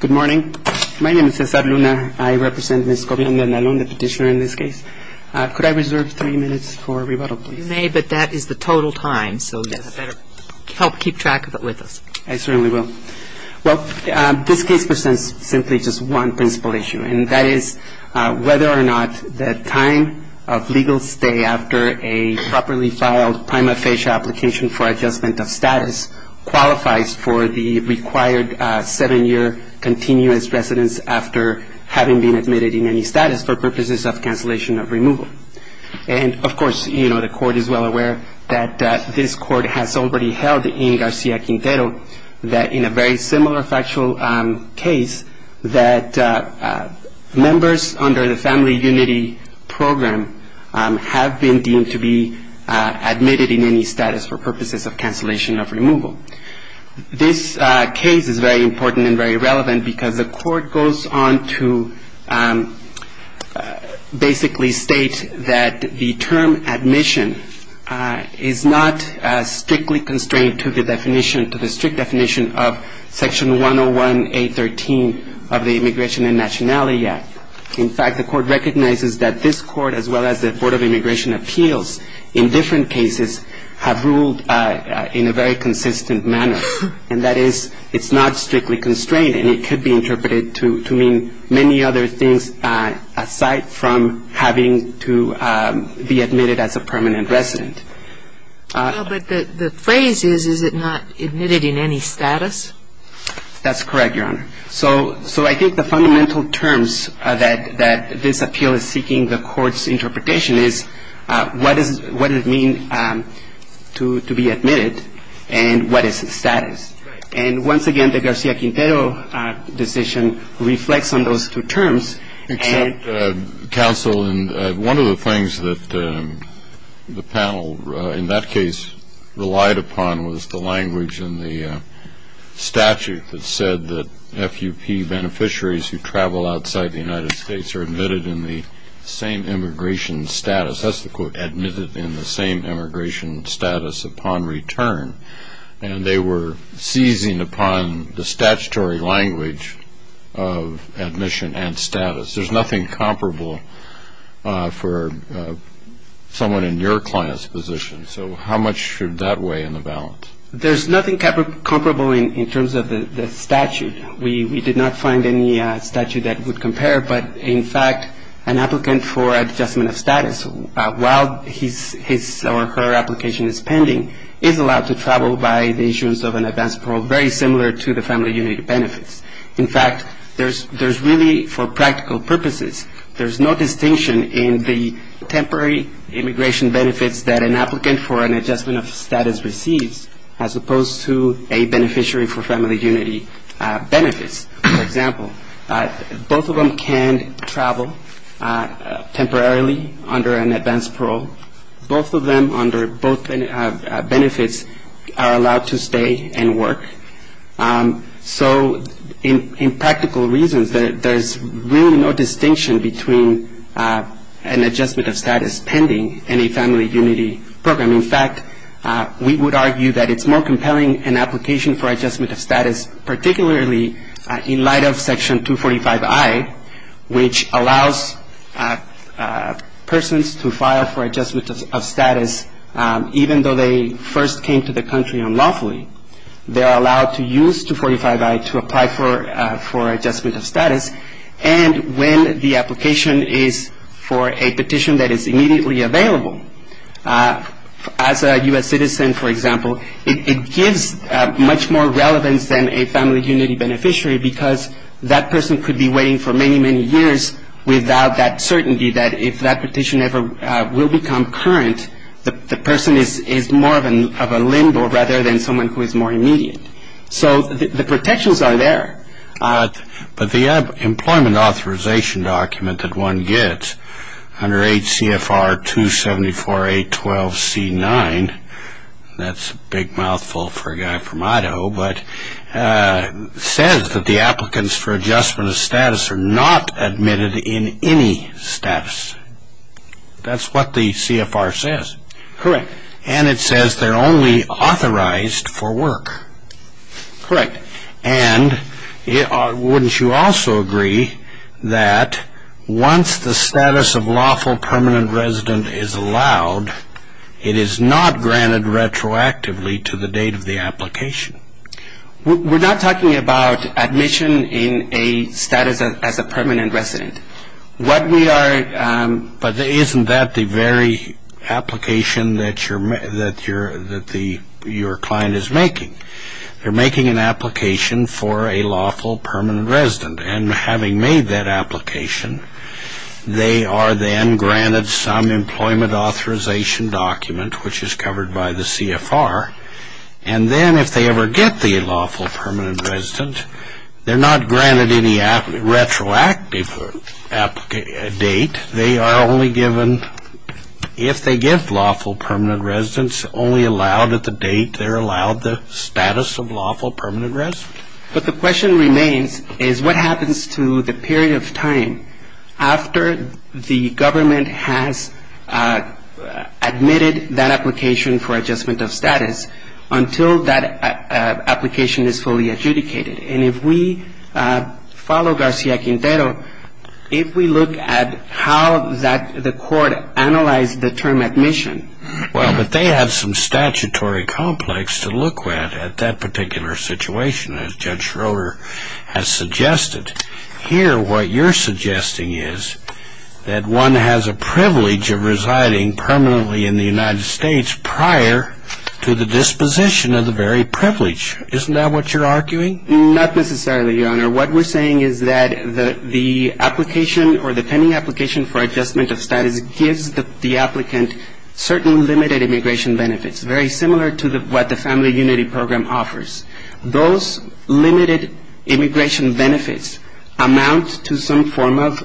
Good morning. My name is Cesar Luna. I represent Ms. Cobian-De Andalon, the petitioner in this case. Could I reserve three minutes for rebuttal, please? You may, but that is the total time, so you better help keep track of it with us. I certainly will. Well, this case presents simply just one principal issue, and that is whether or not the time of legal stay after a properly filed prima facie application for adjustment of status qualifies for the required seven-year continuous residence after having been admitted in any status for purposes of cancellation of removal. And of course, you know, the Court is well aware that this Court has already held in Garcia-Quintero that in a very similar factual case that members under the Family Unity Program have been deemed to be admitted in any status for purposes of cancellation of removal. This case is very important and very relevant because the Court goes on to basically state that the term admission is not strictly constrained to the definition, to the strict definition of Section 101A.13 of the Immigration and Nationality Act. In fact, the Court recognizes that this Court as well as the Board of Immigration Appeals in different cases have ruled in a very consistent manner, and that is it's not strictly constrained and it could be interpreted to mean many other things aside from having to be admitted as a permanent resident. Well, but the phrase is, is it not admitted in any status? That's correct, Your Honor. So I think the fundamental terms that this appeal is seeking the Court's interpretation is what does it mean to be admitted and what is its status. And once again, the Garcia-Quintero decision reflects on those two terms. Except, counsel, one of the things that the panel in that case relied upon was the language in the statute that said that FUP beneficiaries who travel outside the United States are admitted in the same immigration status. That's the quote, admitted in the same immigration status upon return. And they were seizing upon the statutory language of admission and status. There's nothing comparable for someone in your client's position. So how much should that weigh in the balance? There's nothing comparable in terms of the statute. We did not find any statute that would compare. But, in fact, an applicant for adjustment of status while his or her application is pending is allowed to travel by the issuance of an advance parole very similar to the family unit benefits. In fact, there's really, for practical purposes, there's no distinction in the temporary immigration benefits that an applicant for an adjustment of status receives as opposed to a beneficiary for family unity benefits. For example, both of them can travel temporarily under an advance parole. Both of them under both benefits are allowed to stay and work. So in practical reasons, there's really no distinction between an adjustment of status pending and a family unity program. In fact, we would argue that it's more compelling an application for adjustment of status, particularly in light of Section 245I, which allows persons to file for adjustment of status even though they first came to the country unlawfully. They're allowed to use 245I to apply for adjustment of status. And when the application is for a petition that is immediately available, as a U.S. citizen, for example, it gives much more relevance than a family unity beneficiary because that person could be waiting for many, many years without that certainty that if that petition ever will become current, the person is more of a limbo rather than someone who is more immediate. So the protections are there. But the employment authorization document that one gets under H.C.F.R. 274812C9, that's a big mouthful for a guy from Idaho, but says that the applicants for adjustment of status are not admitted in any status. That's what the CFR says. Correct. And it says they're only authorized for work. Correct. And wouldn't you also agree that once the status of lawful permanent resident is allowed, it is not granted retroactively to the date of the application? We're not talking about admission in a status as a permanent resident. But isn't that the very application that your client is making? They're making an application for a lawful permanent resident. And having made that application, they are then granted some employment authorization document, which is covered by the CFR. And then if they ever get the lawful permanent resident, they're not granted any retroactive date. They are only given, if they get lawful permanent residents, only allowed at the date they're allowed the status of lawful permanent resident. But the question remains is what happens to the period of time after the government has admitted that application for adjustment of status until that application is fully adjudicated? And if we follow Garcia Quintero, if we look at how the court analyzed the term admission. Well, but they have some statutory complex to look at at that particular situation, as Judge Schroeder has suggested. Here, what you're suggesting is that one has a privilege of residing permanently in the United States prior to the disposition of the very privilege. Isn't that what you're arguing? Not necessarily, Your Honor. What we're saying is that the application or the pending application for adjustment of status gives the applicant certain limited immigration benefits, very similar to what the Family Unity Program offers. Those limited immigration benefits amount to some form of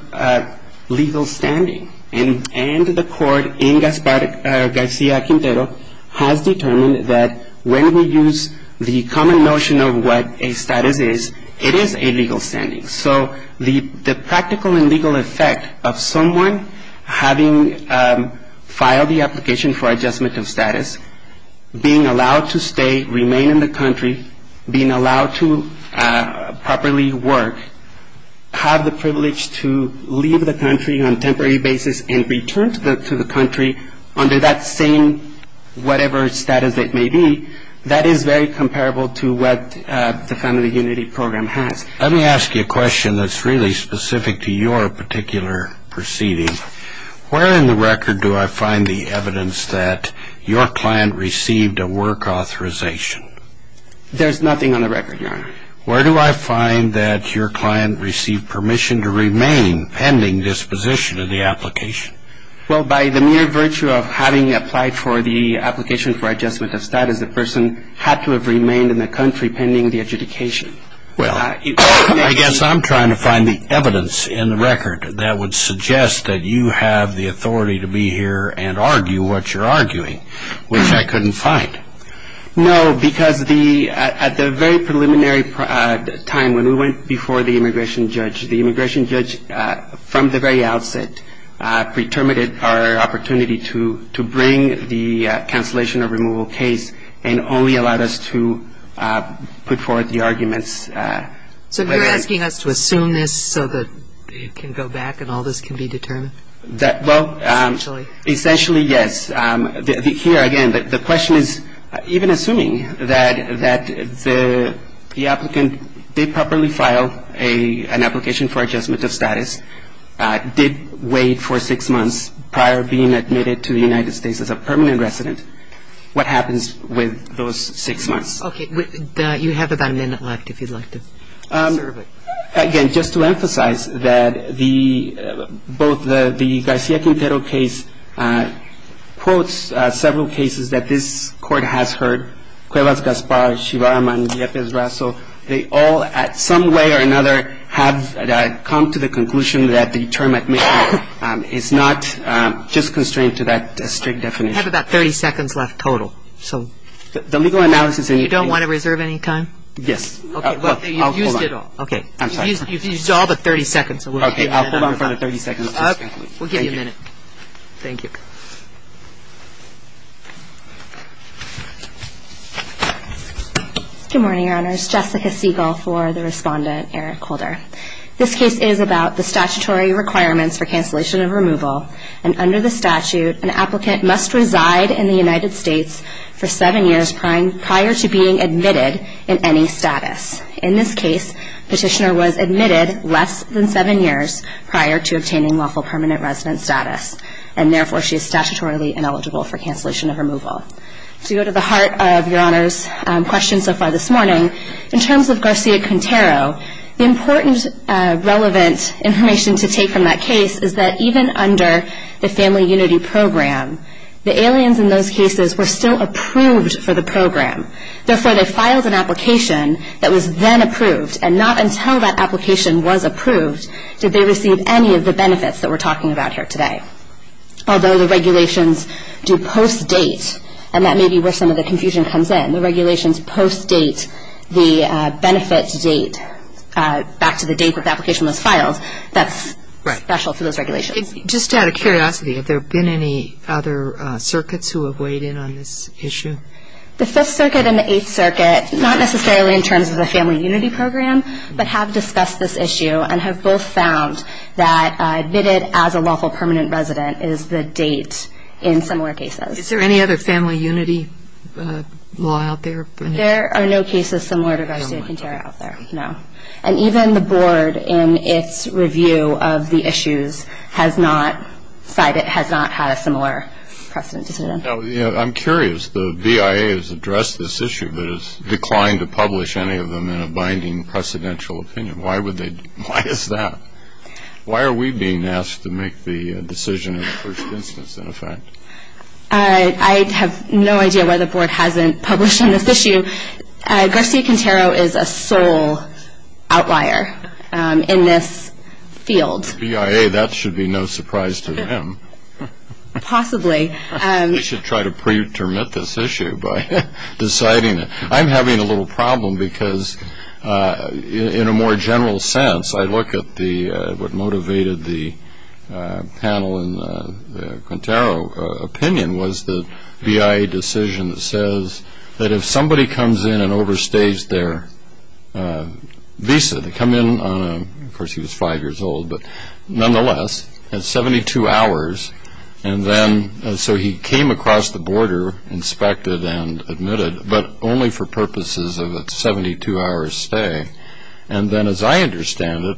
legal standing. And the court in Garcia Quintero has determined that when we use the common notion of what a status is, it is a legal standing. So the practical and legal effect of someone having filed the application for adjustment of status, being allowed to stay, remain in the country, being allowed to properly work, have the privilege to leave the country on a temporary basis and return to the country under that same whatever status it may be, that is very comparable to what the Family Unity Program has. Let me ask you a question that's really specific to your particular proceeding. Where in the record do I find the evidence that your client received a work authorization? There's nothing on the record, Your Honor. Where do I find that your client received permission to remain pending disposition of the application? Well, by the mere virtue of having applied for the application for adjustment of status, the person had to have remained in the country pending the adjudication. Well, I guess I'm trying to find the evidence in the record that would suggest that you have the authority to be here and argue what you're arguing, which I couldn't find. No, because at the very preliminary time when we went before the immigration judge, the immigration judge, from the very outset, preterminated our opportunity to bring the cancellation or removal case and only allowed us to put forward the arguments. So you're asking us to assume this so that it can go back and all this can be determined? Well, essentially, yes. Here, again, the question is even assuming that the applicant did properly file an application for adjustment of status, did wait for six months prior to being admitted to the United States as a permanent resident, what happens with those six months? Okay. You have about a minute left if you'd like to serve it. Again, just to emphasize that both the García Quintero case quotes several cases that this Court has heard, Cuevas-Gaspar, Chivarama, and Yepes-Raso. They all, at some way or another, have come to the conclusion that the term admission is not just constrained to that strict definition. You have about 30 seconds left total. So the legal analysis and you don't want to reserve any time? Yes. Okay. You've used it all. Okay. I'm sorry. You've used all but 30 seconds. Okay. I'll hold on for another 30 seconds. We'll give you a minute. Thank you. Good morning, Your Honors. Jessica Siegel for the Respondent, Eric Holder. This case is about the statutory requirements for cancellation of removal, and under the statute an applicant must reside in the United States for seven years prior to being admitted in any status. In this case, petitioner was admitted less than seven years prior to obtaining lawful permanent resident status, and therefore she is statutorily ineligible for cancellation of removal. To go to the heart of Your Honors' question so far this morning, in terms of García Quintero, the important relevant information to take from that case is that even under the Family Unity Program, the aliens in those cases were still approved for the program. Therefore, they filed an application that was then approved, and not until that application was approved did they receive any of the benefits that we're talking about here today. Although the regulations do post-date, and that may be where some of the confusion comes in, the regulations post-date the benefits date back to the date that the application was filed, that's special for those regulations. Just out of curiosity, have there been any other circuits who have weighed in on this issue? The Fifth Circuit and the Eighth Circuit, not necessarily in terms of the Family Unity Program, but have discussed this issue and have both found that admitted as a lawful permanent resident is the date in similar cases. Is there any other Family Unity law out there? There are no cases similar to García Quintero out there, no. And even the Board, in its review of the issues, has not had a similar precedent. I'm curious. The BIA has addressed this issue, but has declined to publish any of them in a binding precedential opinion. Why is that? Why are we being asked to make the decision in the first instance, in effect? I have no idea why the Board hasn't published on this issue. García Quintero is a sole outlier in this field. The BIA, that should be no surprise to them. Possibly. We should try to pre-termit this issue by deciding it. I'm having a little problem because, in a more general sense, I look at what motivated the panel in Quintero's opinion, was the BIA decision that says that if somebody comes in and overstays their visa, they come in on a, of course he was five years old, but nonetheless, at 72 hours, and then, so he came across the border, inspected and admitted, but only for purposes of a 72-hour stay. And then, as I understand it,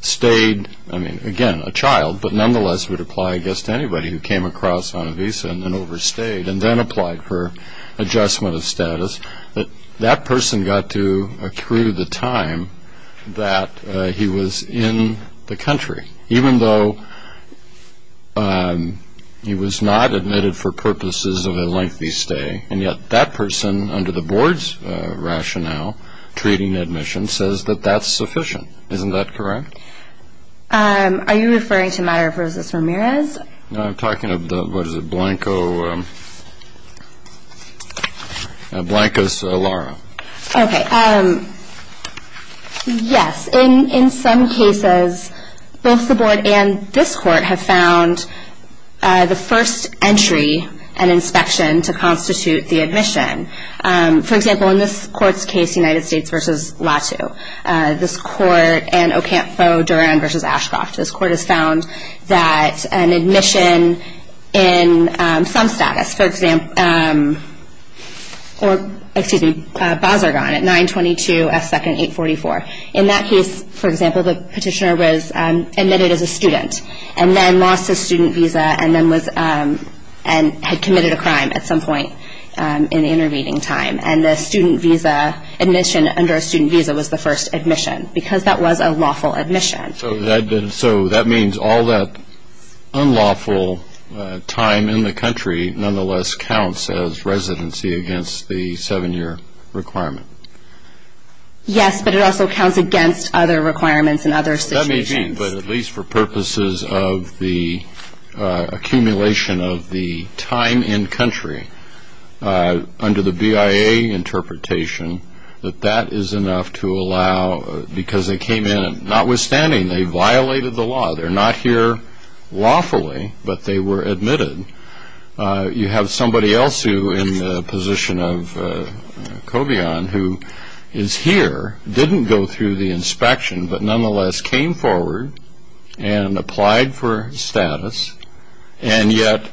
stayed, I mean, again, a child, but nonetheless would apply, I guess, to anybody who came across on a visa and then overstayed, and then applied for adjustment of status. But that person got to accrue the time that he was in the country, even though he was not admitted for purposes of a lengthy stay, and yet that person, under the Board's rationale, treating admission, says that that's sufficient. Isn't that correct? Are you referring to Mayra versus Ramirez? No, I'm talking about, what is it, Blanco's Lara. Okay. Yes. In some cases, both the Board and this Court have found the first entry, an inspection, to constitute the admission. For example, in this Court's case, United States versus Latu, this Court and Ocampo-Duran versus Ashcroft, this Court has found that an admission in some status, for example, or, excuse me, Bazargan at 922 S. 2nd, 844. In that case, for example, the petitioner was admitted as a student and then lost his student visa and then was, and had committed a crime at some point in the intervening time. And the student visa admission under a student visa was the first admission because that was a lawful admission. So that means all that unlawful time in the country, nonetheless, counts as residency against the seven-year requirement. Yes, but it also counts against other requirements in other situations. That may be, but at least for purposes of the accumulation of the time in country, under the BIA interpretation, that that is enough to allow, because they came in, notwithstanding they violated the law. They're not here lawfully, but they were admitted. You have somebody else who, in the position of Cobian, who is here, didn't go through the inspection, but nonetheless came forward and applied for status. And yet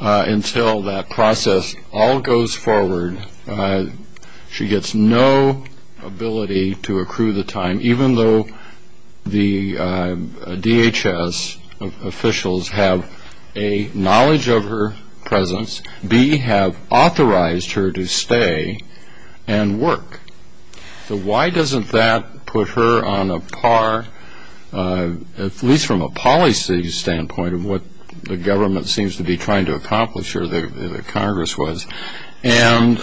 until that process all goes forward, she gets no ability to accrue the time, even though the DHS officials have, A, knowledge of her presence, B, have authorized her to stay and work. So why doesn't that put her on a par, at least from a policy standpoint, of what the government seems to be trying to accomplish, or the Congress was, and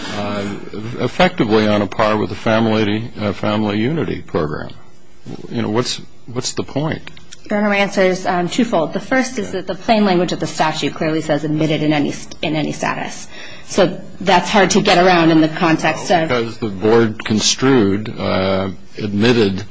effectively on a par with the Family Unity Program? You know, what's the point? Your answer is twofold. The first is that the plain language of the statute clearly says admitted in any status. So that's hard to get around in the context of the board construed, admitted,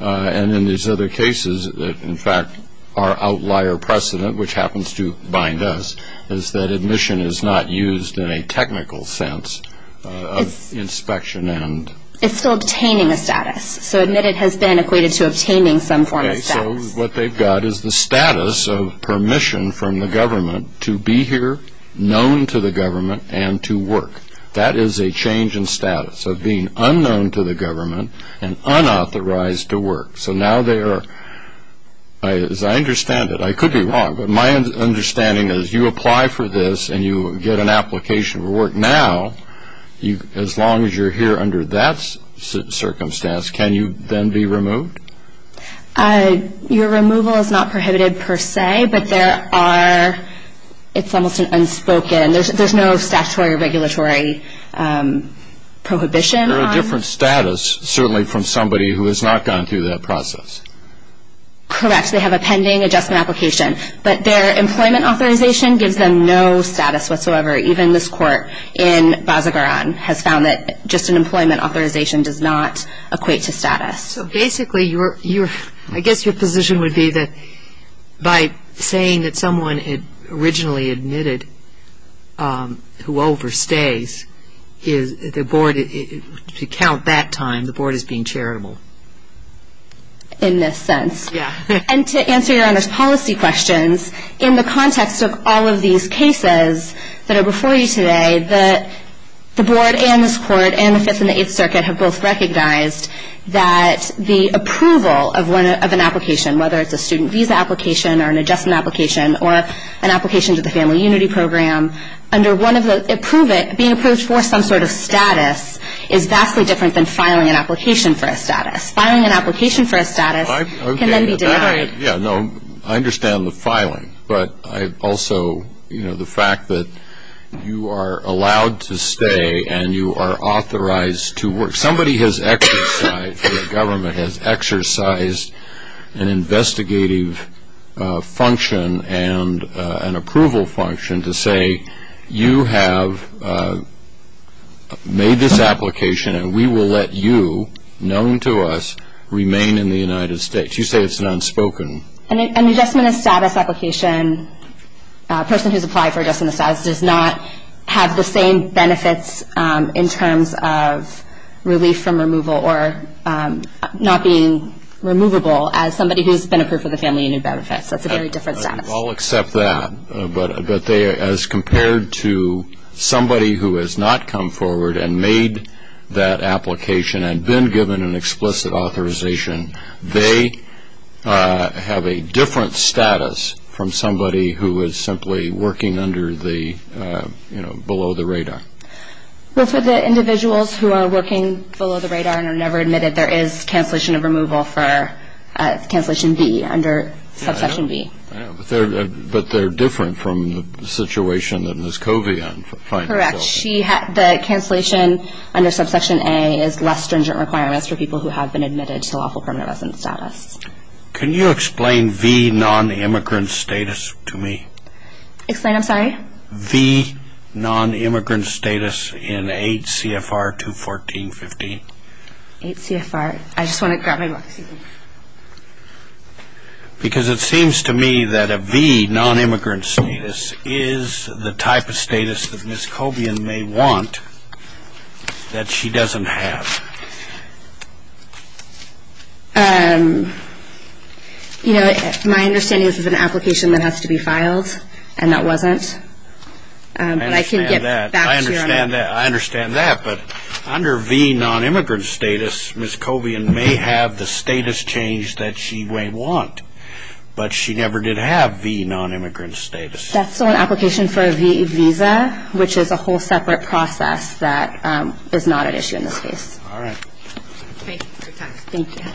and in these other cases, in fact, our outlier precedent, which happens to bind us, is that admission is not used in a technical sense of inspection. It's still obtaining a status. So admitted has been equated to obtaining some form of status. So what they've got is the status of permission from the government to be here, known to the government, and to work. That is a change in status of being unknown to the government and unauthorized to work. So now they are, as I understand it, I could be wrong, but my understanding is you apply for this and you get an application for work now, as long as you're here under that circumstance, can you then be removed? Your removal is not prohibited per se, but there are, it's almost an unspoken, there's no statutory or regulatory prohibition on it. They're a different status, certainly, from somebody who has not gone through that process. Correct, they have a pending adjustment application. But their employment authorization gives them no status whatsoever. Even this court in Bazagaran has found that just an employment authorization does not equate to status. So basically, I guess your position would be that by saying that someone had originally admitted who overstays, the board, to count that time, the board is being charitable. In this sense. Yeah. And to answer your Honor's policy questions, in the context of all of these cases that are before you today, the board and this court and the Fifth and the Eighth Circuit have both recognized that the approval of an application, whether it's a student visa application or an adjustment application or an application to the Family Unity Program, being approved for some sort of status is vastly different than filing an application for a status. Filing an application for a status can then be denied. Yeah, no, I understand the filing. But I also, you know, the fact that you are allowed to stay and you are authorized to work. Somebody has exercised, the government has exercised an investigative function and an approval function to say you have made this application and we will let you, known to us, remain in the United States. You say it's an unspoken. An adjustment of status application, a person who's applied for adjustment of status, does not have the same benefits in terms of relief from removal or not being removable as somebody who's been approved for the Family Unity benefits. That's a very different status. I'll accept that. But as compared to somebody who has not come forward and made that application and been given an explicit authorization, they have a different status from somebody who is simply working under the, you know, below the radar. There is cancellation of removal for cancellation B, under subsection B. But they're different from the situation that Ms. Covey applied for. Correct. The cancellation under subsection A is less stringent requirements for people who have been admitted to lawful permanent residence status. Can you explain V non-immigrant status to me? Explain, I'm sorry? V non-immigrant status in 8 CFR 214.15. 8 CFR. I just want to grab my book. Because it seems to me that a V non-immigrant status is the type of status that Ms. Covey may want that she doesn't have. You know, my understanding is it's an application that has to be filed, and that wasn't. I understand that. But I can get back to you on that. I understand that. But under V non-immigrant status, Ms. Covey may have the status change that she may want. But she never did have V non-immigrant status. That's still an application for a V visa, which is a whole separate process that is not an issue in this case. All right. Thank you for your time. Thank you.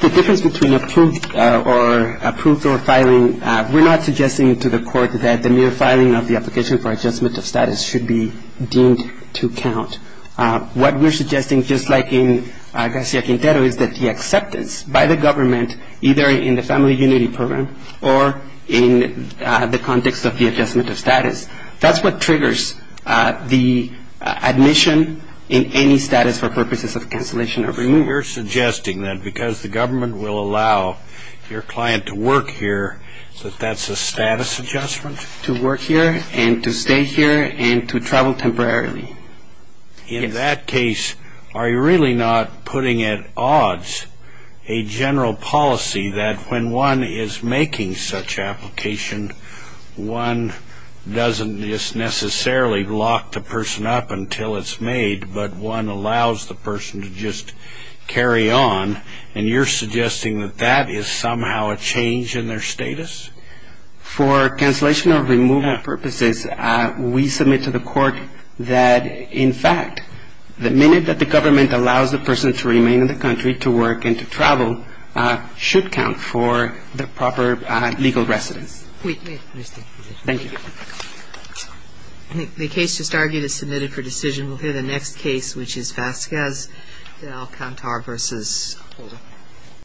The difference between approved or filing, we're not suggesting to the court that the mere filing of the application for adjustment of status should be deemed to count. What we're suggesting, just like in Garcia Quintero, is that the acceptance by the government, either in the Family Unity Program or in the context of the adjustment of status, that's what triggers the admission in any status for purposes of cancellation or removal. So you're suggesting that because the government will allow your client to work here, that that's a status adjustment? And to stay here and to travel temporarily. In that case, are you really not putting at odds a general policy that when one is making such application, one doesn't just necessarily lock the person up until it's made, but one allows the person to just carry on, and you're suggesting that that is somehow a change in their status? For cancellation or removal purposes, we submit to the court that, in fact, the minute that the government allows the person to remain in the country to work and to travel should count for the proper legal residence. Thank you. I think the case just argued is submitted for decision. We'll hear the next case, which is Vasquez del Cantar v. Holder.